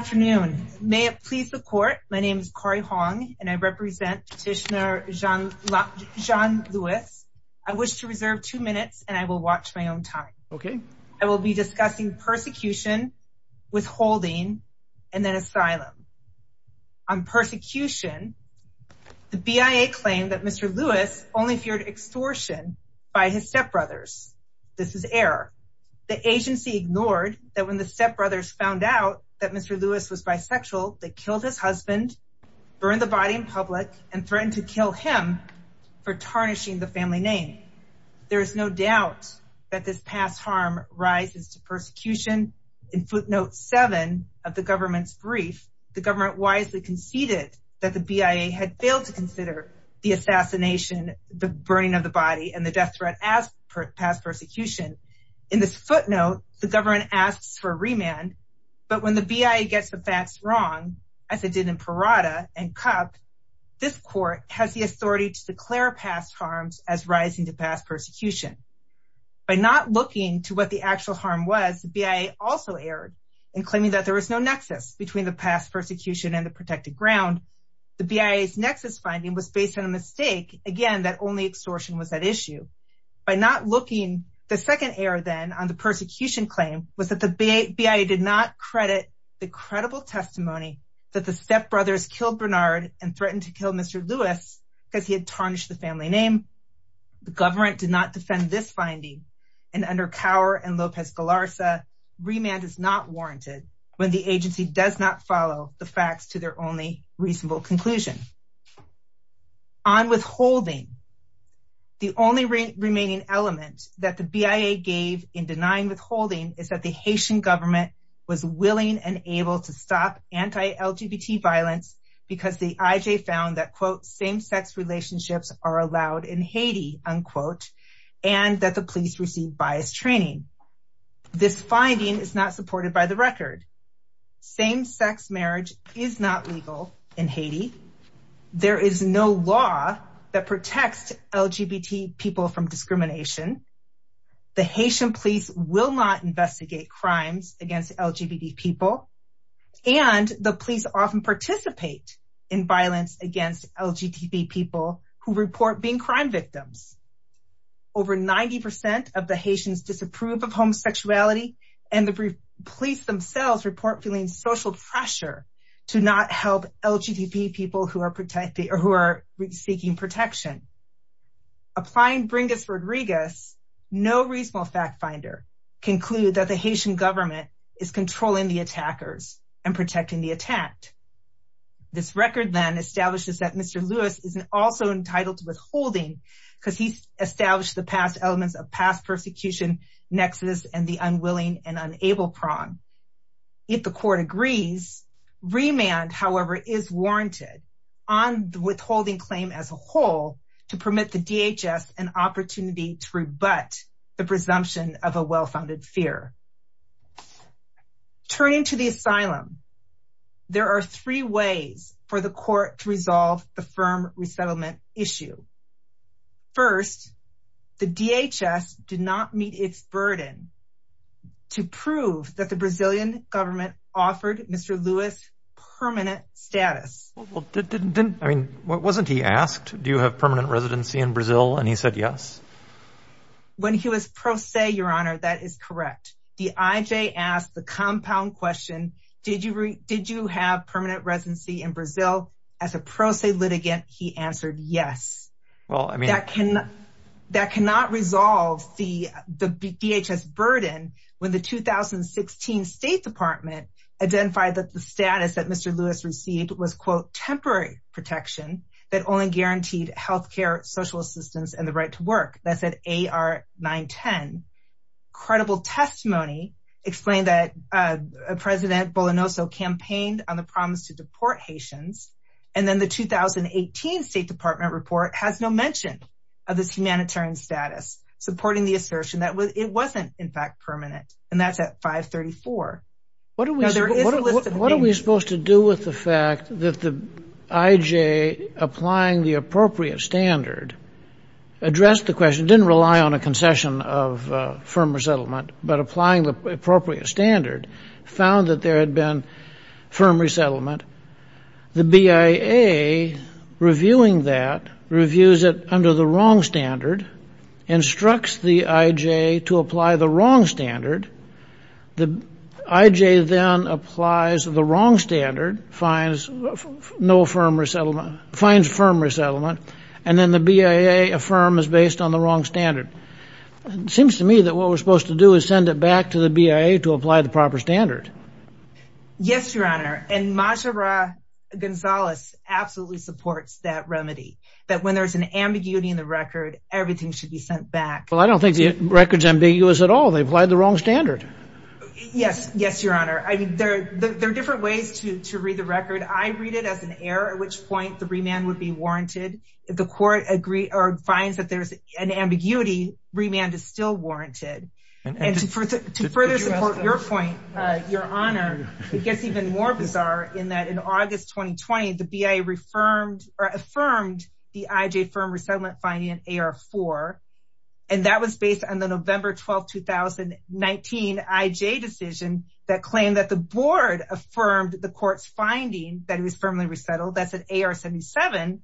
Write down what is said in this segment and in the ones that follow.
Afternoon, may it please the court. My name is Corrie Hong and I represent Petitioner Jean-Louis. I wish to reserve two minutes and I will watch my own time. Okay. I will be discussing persecution, withholding, and then asylum. On persecution, the BIA claimed that Mr. Louis only feared extortion by his stepbrothers. This is error. The agency ignored that when the stepbrothers found out that Mr. Louis was bisexual, they killed his husband, burned the body in public, and threatened to kill him for tarnishing the family name. There is no doubt that this past harm rises to persecution. In footnote seven of the government's brief, the government wisely conceded that the BIA had failed to consider the assassination, the burning of the body, and the death threat as past persecution. In this footnote, the government asks for a remand. But when the BIA gets the facts wrong, as it did in Parada and Cup, this court has the authority to declare past harms as rising to past persecution. By not looking to what the actual harm was, the BIA also erred in claiming that there was no nexus between the past persecution and the protected ground. The BIA's nexus finding was based on a mistake, again, that only extortion was at issue. By not looking, the second error then on the persecution claim was that the BIA did not credit the credible testimony that the stepbrothers killed Bernard and threatened to kill Mr. Lewis because he had tarnished the family name. The government did not defend this finding, and under Cower and Lopez Galarza, remand is not warranted when the agency does not follow the facts to their only reasonable conclusion. On withholding, the only remaining element that the BIA gave in denying withholding is that the Haitian government was willing and able to stop anti-LGBT violence because the IJ found that, quote, same-sex relationships are allowed in Haiti, unquote, and that the police received biased training. This finding is not supported by the record. Same-sex marriage is not legal in Haiti. There is no law that protects LGBT people from discrimination. The Haitian police will not investigate crimes against LGBT people, and the police often participate in violence against LGBT people who report being crime victims. Over 90% of the Haitians disapprove of homosexuality, and the police themselves report feeling social pressure to not help LGBT people who are seeking protection. Applying Bringas-Rodriguez, no reasonable fact finder concluded that the Haitian government is controlling the attackers and protecting the attacked. This record then establishes that Mr. Lewis isn't also entitled to withholding because he's established the past elements of past persecution, nexus, and the unwilling and unable prong. If the court agrees, remand, however, is warranted on the withholding claim as a presumption of a well-founded fear. It is not possible to permit the DHS an opportunity to rebut the presumption of a well-founded fear. Turning to the asylum, there are three ways for the court to resolve the firm resettlement issue. First, the DHS did not meet its burden to prove that the Brazilian government offered Mr. Lewis permanent status. Well, didn't, I mean, wasn't he asked, do you have permanent residency in Brazil? And he said, yes. When he was pro se, your honor, that is correct. The IJ asked the compound question, did you have permanent residency in Brazil? As a pro se litigant, he answered yes. Well, I mean, that can, that cannot resolve the DHS burden when the 2016 state department identified that the status that Mr. Lewis received was quote, temporary protection that only guaranteed healthcare, social assistance, and the right to work. That's at AR 910. Credible testimony explained that President Bolanoso campaigned on the promise to deport Haitians. And then the 2018 state department report has no mention of this humanitarian status supporting the assertion that it wasn't in fact permanent and that's at 534. What are we supposed to do with the fact that the IJ applying the appropriate standard addressed the question, didn't rely on a concession of a firm resettlement, but applying the appropriate standard found that there had been firm resettlement. The BIA reviewing that, reviews it under the wrong standard, instructs the IJ to apply the appropriate standard. The IJ then applies the wrong standard, finds no firm resettlement, finds firm resettlement, and then the BIA affirm is based on the wrong standard. It seems to me that what we're supposed to do is send it back to the BIA to apply the proper standard. Yes, your honor. And Majora Gonzalez absolutely supports that remedy. That when there's an ambiguity in the record, everything should be sent back. Well, I don't think the record's ambiguous at all. They applied the wrong standard. Yes. Yes, your honor. I mean, there, there are different ways to, to read the record. I read it as an error, at which point the remand would be warranted. If the court agree or finds that there's an ambiguity, remand is still warranted. And to further support your point, your honor, it gets even more bizarre in that in August, 2020, the BIA affirmed the IJ firm resettlement finding in AR4. And that was based on the November 12th, 2019 IJ decision that claimed that the board affirmed the court's finding that it was firmly resettled, that's an AR77.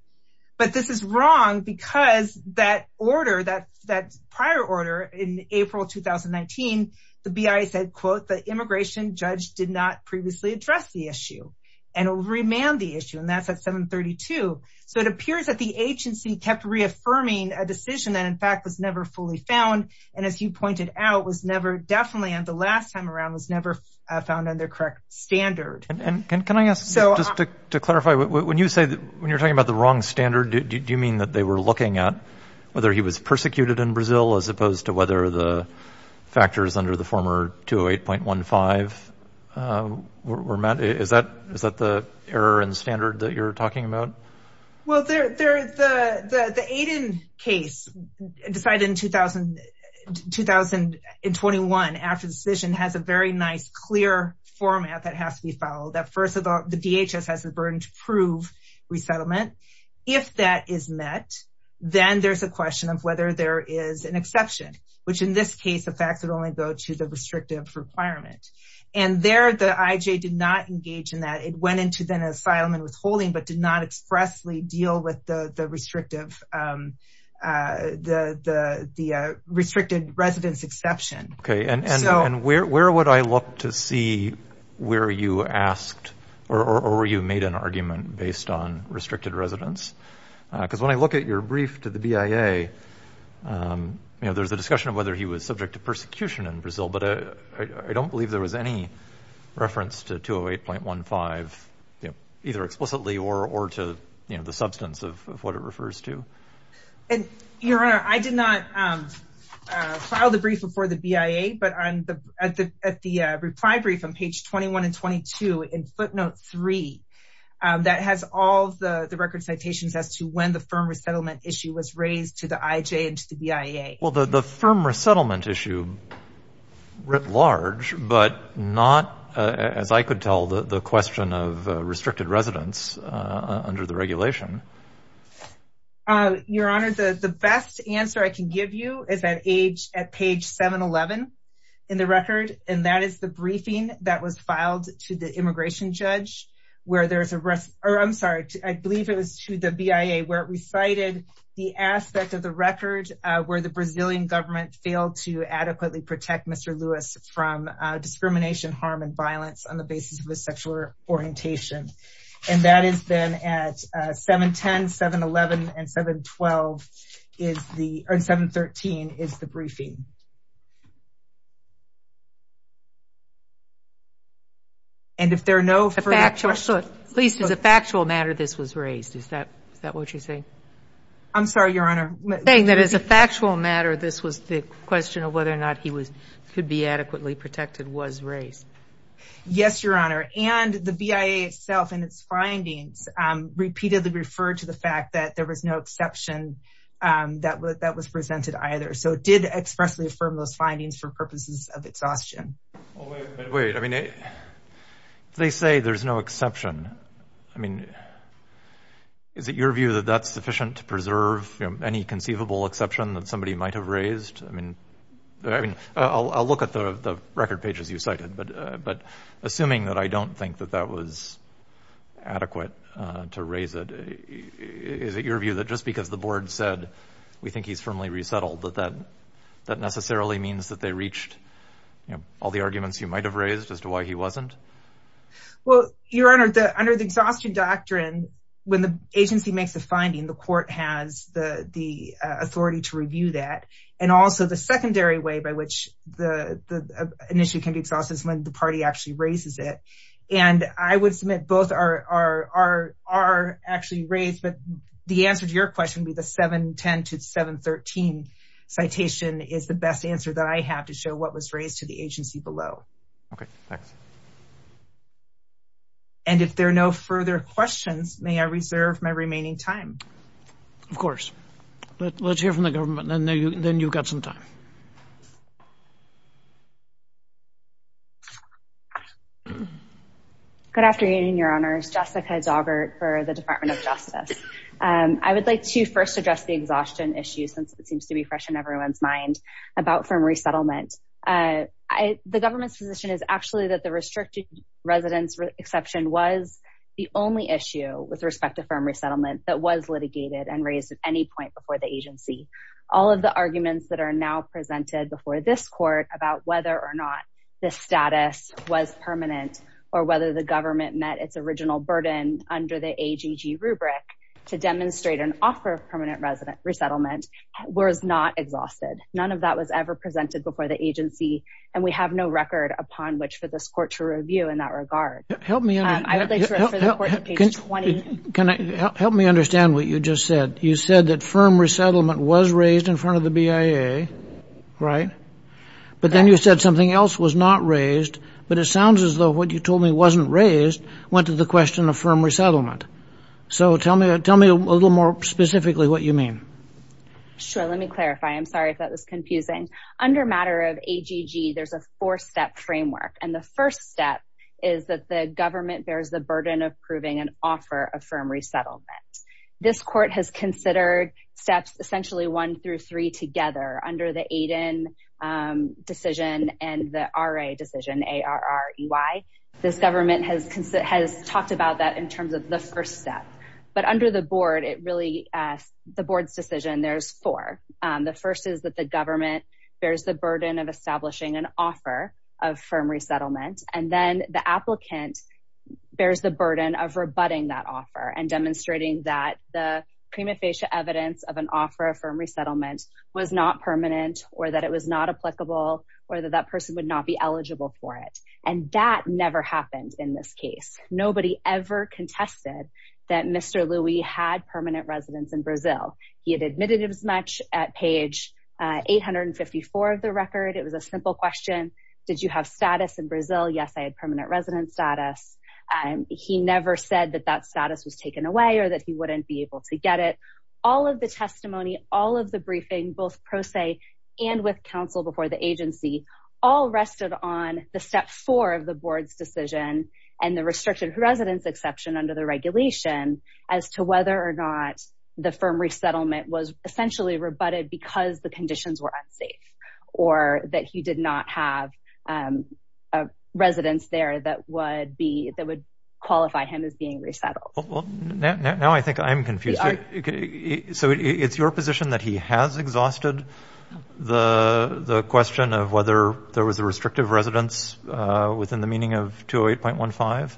But this is wrong because that order that, that prior order in April, 2019, the BIA said, quote, the immigration judge did not previously address the issue and remand the issue, and that's at 732, so it appears that the agency kept reaffirming a decision that in fact was never fully found. And as you pointed out, was never definitely, and the last time around was never found on their correct standard. And can I ask, just to clarify, when you say that when you're talking about the wrong standard, do you mean that they were looking at whether he was persecuted in Brazil as opposed to whether the factors under the former 208.15 were met? Is that, is that the error in standard that you're talking about? Well, there, there, the, the, the Aiden case decided in 2000, 2021 after the decision has a very nice, clear format that has to be followed that first of all, the DHS has the burden to prove resettlement, if that is met, then there's a question of whether there is an exception, which in this case, the facts would only go to the restrictive requirement and there the IJ did not engage in that, it went into then asylum and withholding, but did not expressly deal with the, the restrictive, the, the, the restricted residence exception. Okay. And, and, and where, where would I look to see where you asked, or, or, or you made an argument based on restricted residence? Cause when I look at your brief to the BIA, you know, there's a discussion of whether he was subject to persecution in Brazil, but I don't believe there was any reference to 208.15, you know, either explicitly or, or to, you know, the substance of what it refers to. And your honor, I did not, um, uh, file the brief before the BIA, but on the, at the, at the, uh, reply brief on page 21 and 22 in footnote three, um, that has all the, the record citations as to when the firm resettlement issue was raised to the IJ and to the BIA. Well, the, the firm resettlement issue writ large, but not, uh, as I could tell the, the question of, uh, restricted residence, uh, under the regulation. Uh, your honor, the, the best answer I can give you is that age at page 711 in the record, and that is the briefing that was filed to the immigration judge where there's a rest or I'm sorry, I believe it was to the BIA where it recited the aspect of the record, uh, where the Brazilian government failed to adequately protect Mr. Lewis from, uh, discrimination, harm, and violence on the basis of a sexual orientation. And that has been at, uh, 710, 711 and 712 is the, or 713 is the briefing. And if there are no facts, please, is a factual matter. This was raised. Is that, is that what you're saying? I'm sorry, your honor. Saying that as a factual matter, this was the question of whether or not he was, could be adequately protected was raised. Yes, your honor. And the BIA itself and its findings, um, repeatedly referred to the fact that there was no exception, um, that was, that was presented either. So it did expressly affirm those findings for purposes of exhaustion. Well, wait, wait. I mean, they say there's no exception. I mean, is it your view that that's sufficient to preserve any conceivable exception that somebody might've raised? I mean, I mean, I'll, I'll look at the record pages you cited, but, uh, but assuming that I don't think that that was adequate, uh, to raise it, is it your view that just because the board said, we think he's firmly resettled that that, that necessarily means that they reached, you know, all the arguments you might have raised as to why he wasn't? Well, your honor, the, under the exhaustion doctrine, when the agency makes the finding, the court has the, the, uh, authority to review that. And also the secondary way by which the, the, uh, an issue can be exhausted is when the party actually raises it. And I would submit both are, are, are, are actually raised, but the answer to your question would be the 710 to 713 citation is the best answer that I have to show what was raised to the agency below. Okay. Thanks. And if there are no further questions, may I reserve my remaining time? Of course, let's hear from the government and then you, then you've got some time. Good afternoon, your honors, Jessica Daugherty for the department of justice. Um, I would like to first address the exhaustion issue since it seems to be fresh in everyone's mind about firm resettlement. Uh, I, the government's position is actually that the restricted residence exception was the only issue with respect to firm resettlement that was litigated and raised at any point before the agency, all of the arguments that are now presented before this court about whether or not the status was permanent or whether the government met its original burden under the AGG rubric to demonstrate an offer of permanent resident resettlement was not exhausted. None of that was ever presented before the agency, and we have no record upon which for this court to review in that regard. Help me. And I would like to, can I help me understand what you just said? You said that firm resettlement was raised in front of the BIA, right? But then you said something else was not raised, but it sounds as though what you told me wasn't raised, went to the question of firm resettlement. So tell me, tell me a little more specifically what you mean. Sure. Let me clarify. I'm sorry if that was confusing. Under matter of AGG, there's a four step framework. And the first step is that the government bears the burden of proving an offer of firm resettlement. This court has considered steps, essentially one through three together under the AIDEN decision and the RA decision, A-R-R-E-Y. This government has talked about that in terms of the first step, but under the board, it really, the board's decision, there's four. The first is that the government bears the burden of establishing an offer of firm resettlement. And then the applicant bears the burden of rebutting that offer and demonstrating that the prima facie evidence of an offer of firm resettlement was not permanent or that it was not applicable or that that person would not be eligible for it. And that never happened in this case. Nobody ever contested that Mr. Louie had permanent residence in Brazil. He had admitted as much at page 854 of the record. It was a simple question. Did you have status in Brazil? Yes, I had permanent residence status. And he never said that that status was taken away or that he wouldn't be able to get it. All of the testimony, all of the briefing, both pro se and with counsel before the agency, all rested on the step four of the board's decision and the restricted residence exception under the regulation as to whether or not the firm resettlement was essentially rebutted because the conditions were unsafe or that he did not have a residence there that would be, that would qualify him as being resettled. Well, now I think I'm confused. So it's your position that he has exhausted the question of whether there was a restrictive residence within the meaning of 208.15?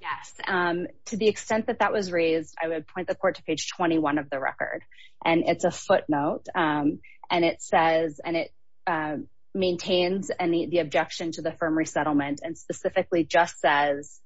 Yes. To the extent that that was raised, I would point the court to page 21 of the record and it's a footnote and it says, and it maintains the objection to the firm resettlement and specifically just says,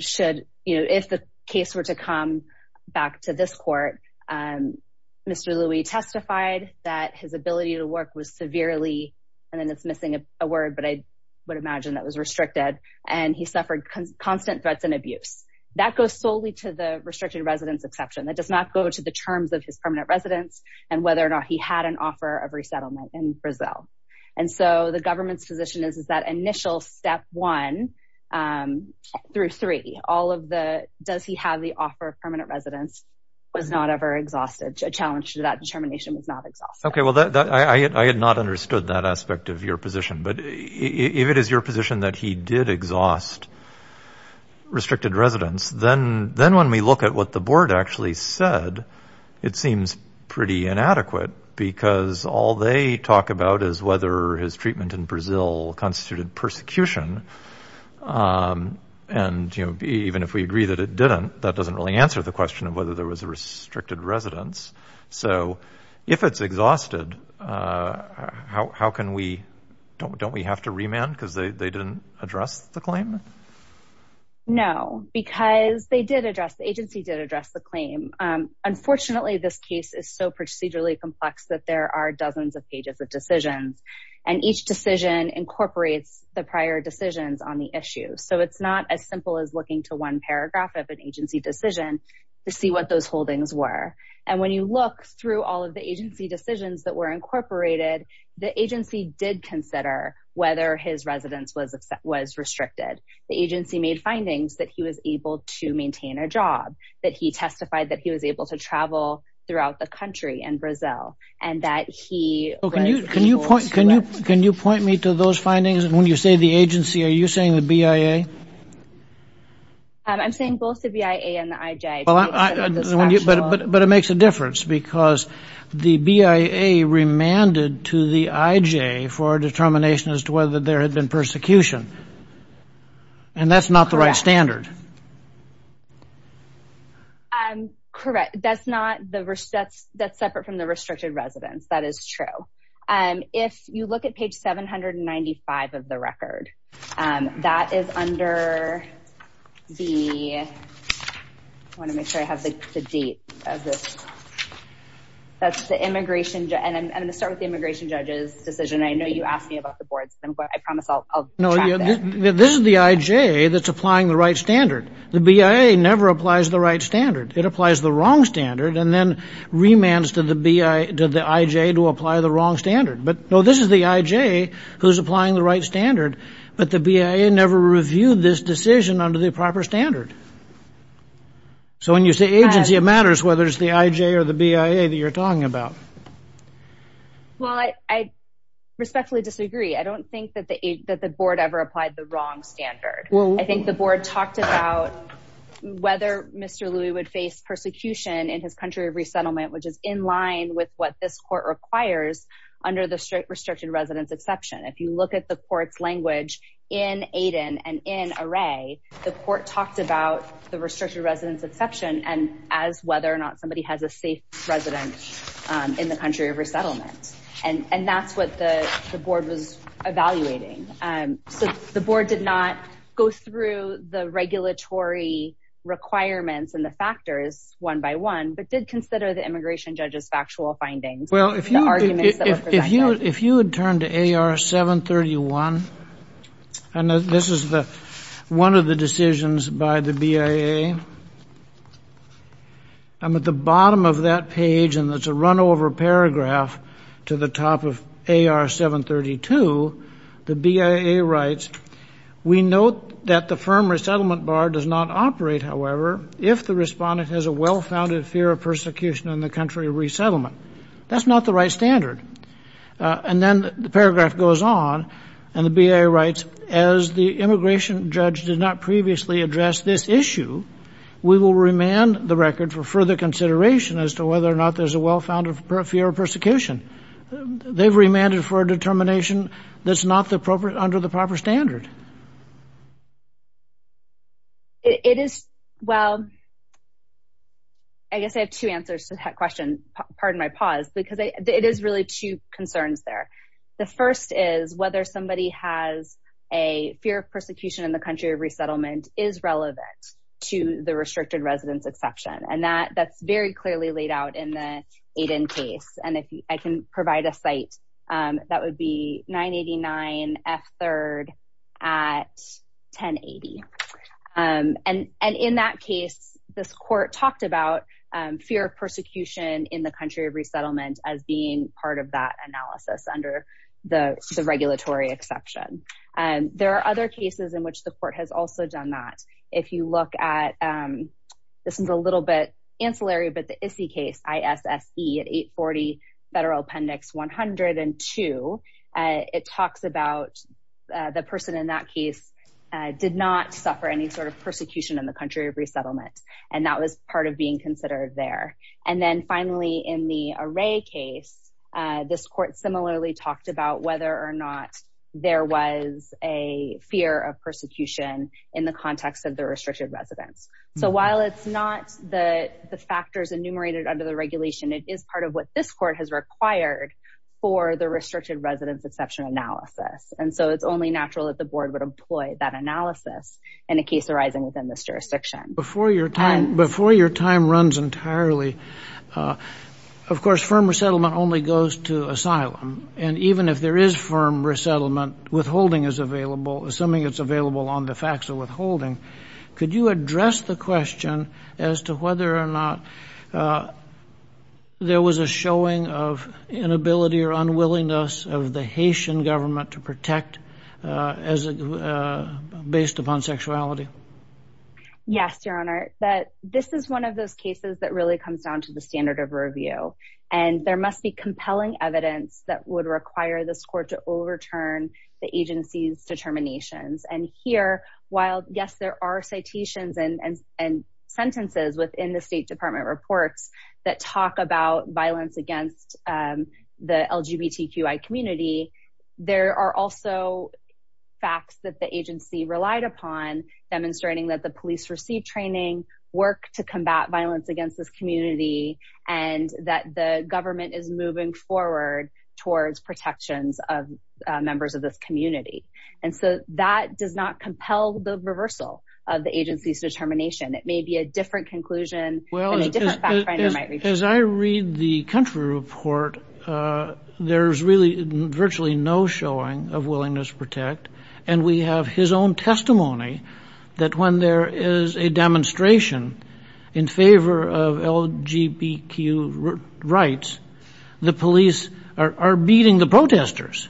should, you know, if the case were to come back to this court, Mr. Louie testified that his ability to work was severely, and then it's missing a word, but I would imagine that was restricted. And he suffered constant threats and abuse. That goes solely to the restricted residence exception. That does not go to the terms of his permanent residence and whether or not he had an offer of resettlement in Brazil. And so the government's position is, is that initial step one through three, all of the, does he have the offer of permanent residence was not ever exhausted. A challenge to that determination was not exhausted. Okay. Well, I had not understood that aspect of your position, but if it is your position that he did exhaust restricted residence, then, then when we look at what the board actually said, it seems pretty inadequate because all they talk about is whether his treatment in Brazil constituted persecution. And, you know, even if we agree that it didn't, that doesn't really answer the question of whether there was a restricted residence. So if it's exhausted how, how can we, don't, don't we have to remand? Cause they, they didn't address the claim. No, because they did address the agency, did address the claim. Um, unfortunately this case is so procedurally complex that there are dozens of pages of decisions and each decision incorporates the prior decisions on the issue. So it's not as simple as looking to one paragraph of an agency decision to see what those holdings were. And when you look through all of the agency decisions that were incorporated, the agency did consider whether his residence was, was restricted. The agency made findings that he was able to maintain a job, that he testified that he was able to travel throughout the country and Brazil, and that he... Can you, can you point, can you, can you point me to those findings? And when you say the agency, are you saying the BIA? I'm saying both the BIA and the IJ. Well, but, but, but it makes a difference because the BIA remanded to the IJ for a determination as to whether there had been persecution and that's not the right standard. Um, correct. That's not the, that's, that's separate from the restricted residence. That is true. Um, if you look at page 795 of the record, um, that is under the, I want to make sure I have the, the date of this, that's the immigration judge, and I'm going to start with the immigration judge's decision. I know you asked me about the boards, but I promise I'll, I'll track this. No, this is the IJ that's applying the right standard. The BIA never applies the right standard. It applies the wrong standard and then remands to the BI, to the IJ to apply the wrong standard. But no, this is the IJ who's applying the right standard, but the BIA never reviewed this decision under the proper standard. So when you say agency, it matters whether it's the IJ or the BIA that you're talking about. Well, I, I respectfully disagree. I don't think that the, that the board ever applied the wrong standard. I think the board talked about whether Mr. Louie would face persecution in his country of resettlement, which is in line with what this court requires under the strict restricted residence exception. If you look at the court's language in Aiden and in Array, the court talked about the restricted residence exception and as whether or not somebody has a safe residence, um, in the country of resettlement. And, and that's what the board was evaluating. Um, so the board did not go through the regulatory requirements and the factors one by one, but did consider the immigration judge's factual findings. Well, if you, if you, if you had turned to AR 731 and this is the, one of the decisions by the BIA, I'm at the bottom of that page and it's a run over paragraph to the top of AR 732, the BIA writes, we note that the firm resettlement bar does not operate, however, if the respondent has a well-founded fear of persecution in the country of resettlement, that's not the right standard. Uh, and then the paragraph goes on and the BIA writes, as the immigration judge did not previously address this issue, we will remand the record for further consideration as to whether or not there's a well-founded fear of persecution. They've remanded for a determination that's not the appropriate under the proper standard. It is, well, I guess I have two answers to that question. Pardon my pause, because it is really two concerns there. The first is whether somebody has a fear of persecution in the country of resettlement is relevant to the restricted residence exception. And that that's very clearly laid out in the aid in case. And if I can provide a site, um, that would be 989 F third at 10 80. Um, and, and in that case, this court talked about, um, fear of persecution in the country of resettlement as being part of that analysis under the regulatory exception. And there are other cases in which the court has also done that. If you look at, um, this is a little bit ancillary, but the ICI case, I S S E at eight 40 federal appendix, 102. Uh, it talks about, uh, the person in that case, uh, did not suffer any sort of persecution in the country of resettlement. And that was part of being considered there. And then finally in the array case, uh, this court similarly talked about whether or not there was a fear of persecution in the context of the restricted residence. So while it's not the factors enumerated under the regulation, it is part of what this court has required for the restricted residence exception analysis. And so it's only natural that the board would employ that analysis in a case arising within this jurisdiction. Before your time, before your time runs entirely, uh, of course, firm resettlement only goes to asylum. And even if there is firm resettlement withholding is available, assuming it's available on the facts of withholding, could you address the question as to whether or not, uh, there was a showing of inability or unwillingness of the Haitian government to protect, uh, as, uh, based upon sexuality? Yes, Your Honor, that this is one of those cases that really comes down to the standard of review. And there must be compelling evidence that would require this court to overturn the agency's determinations. And here, while yes, there are citations and, and, and sentences within the state department reports that talk about violence against, um, the LGBTQI community, there are also facts that the agency relied upon demonstrating that the agency was willing to protect the LGBT community and that the government is moving forward towards protections of, uh, members of this community. And so that does not compel the reversal of the agency's determination. It may be a different conclusion and a different fact finder might reach. Well, as I read the country report, uh, there's really virtually no showing of willingness to protect, and we have his own testimony that when there is a demonstration in favor of LGBTQ rights, the police are beating the protesters.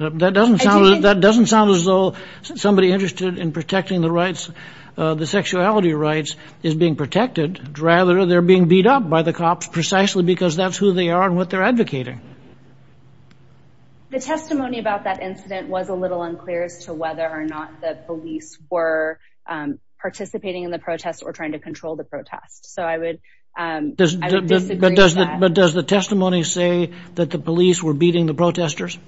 That doesn't sound, that doesn't sound as though somebody interested in protecting the rights, uh, the sexuality rights is being protected, rather they're being beat up by the cops precisely because that's who they are and what they're advocating. The testimony about that incident was a little unclear as to whether or not the police were, um, participating in the protest or trying to control the protest. So I would, um, disagree with that. But does the testimony say that the police were beating the protesters?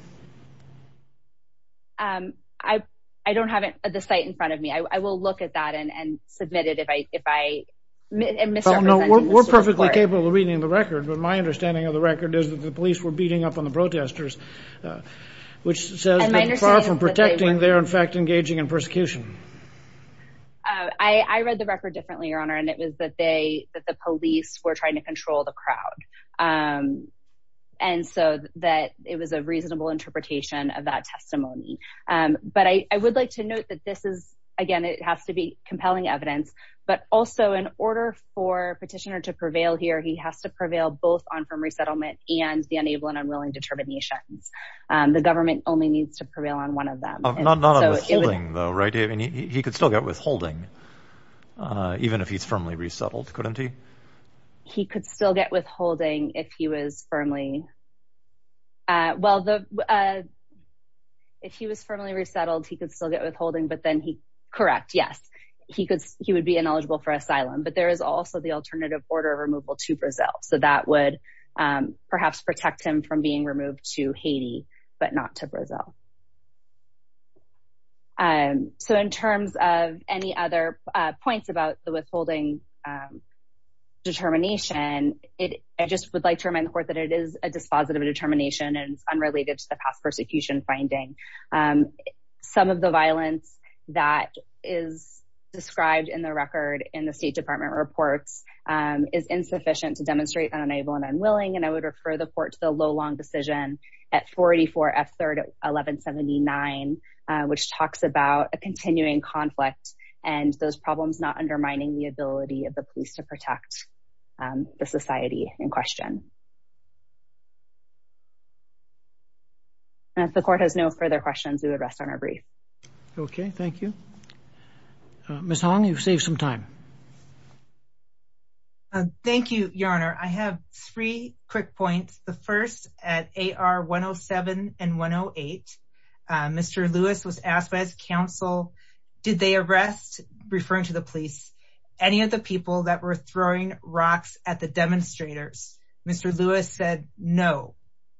Um, I, I don't have it at the site in front of me. I will look at that and, and submit it if I, if I misrepresent it. We're perfectly capable of reading the record, but my understanding of the police were beating up on the protesters, uh, which says that far from protecting, they're in fact engaging in persecution. Uh, I, I read the record differently, your honor, and it was that they, that the police were trying to control the crowd. Um, and so that it was a reasonable interpretation of that testimony. Um, but I, I would like to note that this is, again, it has to be compelling evidence, but also in order for petitioner to prevail here, he has to enable an unwilling determinations. Um, the government only needs to prevail on one of them. Though, right. I mean, he, he could still get withholding, uh, even if he's firmly resettled, couldn't he? He could still get withholding if he was firmly, uh, well, the, uh, if he was firmly resettled, he could still get withholding, but then he correct. Yes, he could, he would be ineligible for asylum, but there is also the alternative order of removal to Brazil. So that would, um, perhaps protect him from being removed to Haiti, but not to Brazil. Um, so in terms of any other points about the withholding, um, determination, it, I just would like to remind the court that it is a dispositive determination and it's unrelated to the past persecution finding. Um, some of the violence that is described in the record in the state department reports, um, is insufficient to demonstrate that unable and unwilling. And I would refer the port to the low long decision at 44 F 3rd, 1179, uh, which talks about a continuing conflict and those problems, not undermining the ability of the police to protect, um, the society in question. And if the court has no further questions, we would rest on our brief. Okay. Thank you. Uh, Ms. Hong, you've saved some time. Uh, thank you, your honor. I have three quick points. The first at AR 107 and 108, uh, Mr. Lewis was asked by his counsel, did they arrest, referring to the police, any of the people that were throwing rocks at the demonstrators, Mr. Lewis said, no,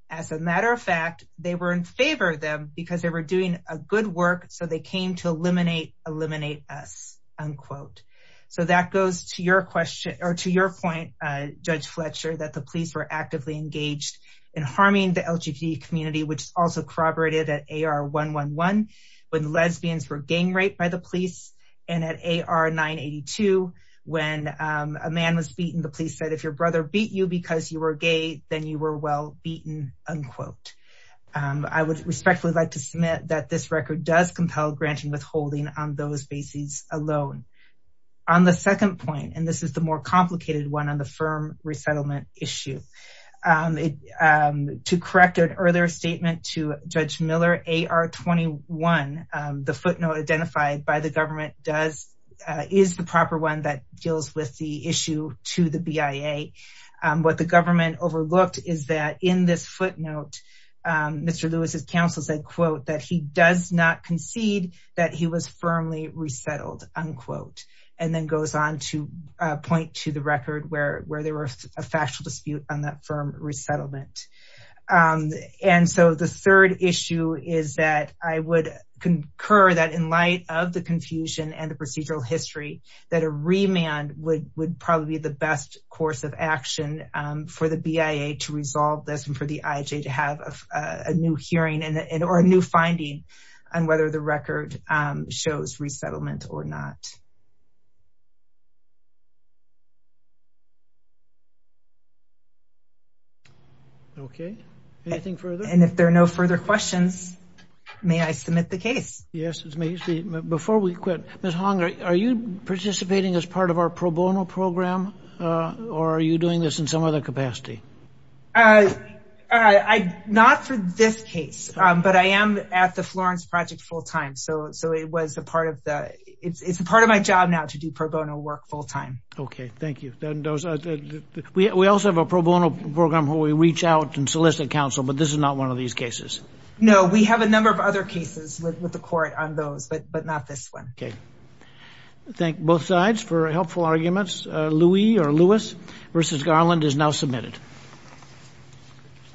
as a matter of fact, they were in favor of them because they were doing a good work. So they came to eliminate, eliminate us unquote. So that goes to your question or to your point, uh, judge Fletcher that the police were actively engaged in harming the LGBT community, which is also corroborated at AR 111, when lesbians were gang raped by the police and at AR 982, when, um, a man was beaten, the police said, if your brother beat you because you were gay, then you were well beaten unquote, um, I would respectfully like to submit that this record does compel granting withholding on those alone on the second point. And this is the more complicated one on the firm resettlement issue. Um, um, to correct an earlier statement to judge Miller, AR 21, um, the footnote identified by the government does, uh, is the proper one that deals with the issue to the BIA. Um, what the government overlooked is that in this footnote, um, Mr. Lewis's counsel said, quote, that he does not concede that he was firmly resettled unquote, and then goes on to point to the record where, where there was a factual dispute on that firm resettlement. Um, and so the third issue is that I would concur that in light of the confusion and the procedural history, that a remand would, would probably be the best course of action, um, for the BIA to resolve this and for the IJ to have a new hearing and, and, or a new finding on whether the record, um, shows resettlement or not. Okay. Anything further? And if there are no further questions, may I submit the case? Yes. It's me before we quit. Ms. Hong, are you participating as part of our pro bono program? Uh, or are you doing this in some other capacity? Uh, I, not for this case, um, but I am at the Florence project full time. So, so it was a part of the, it's, it's a part of my job now to do pro bono work full time. Okay. Thank you. Then those, we also have a pro bono program where we reach out and solicit counsel, but this is not one of these cases. No, we have a number of other cases with the court on those, but, but not this one. Okay. Thank both sides for helpful arguments. Uh, Louie or Lewis versus Garland is now submitted. Okay.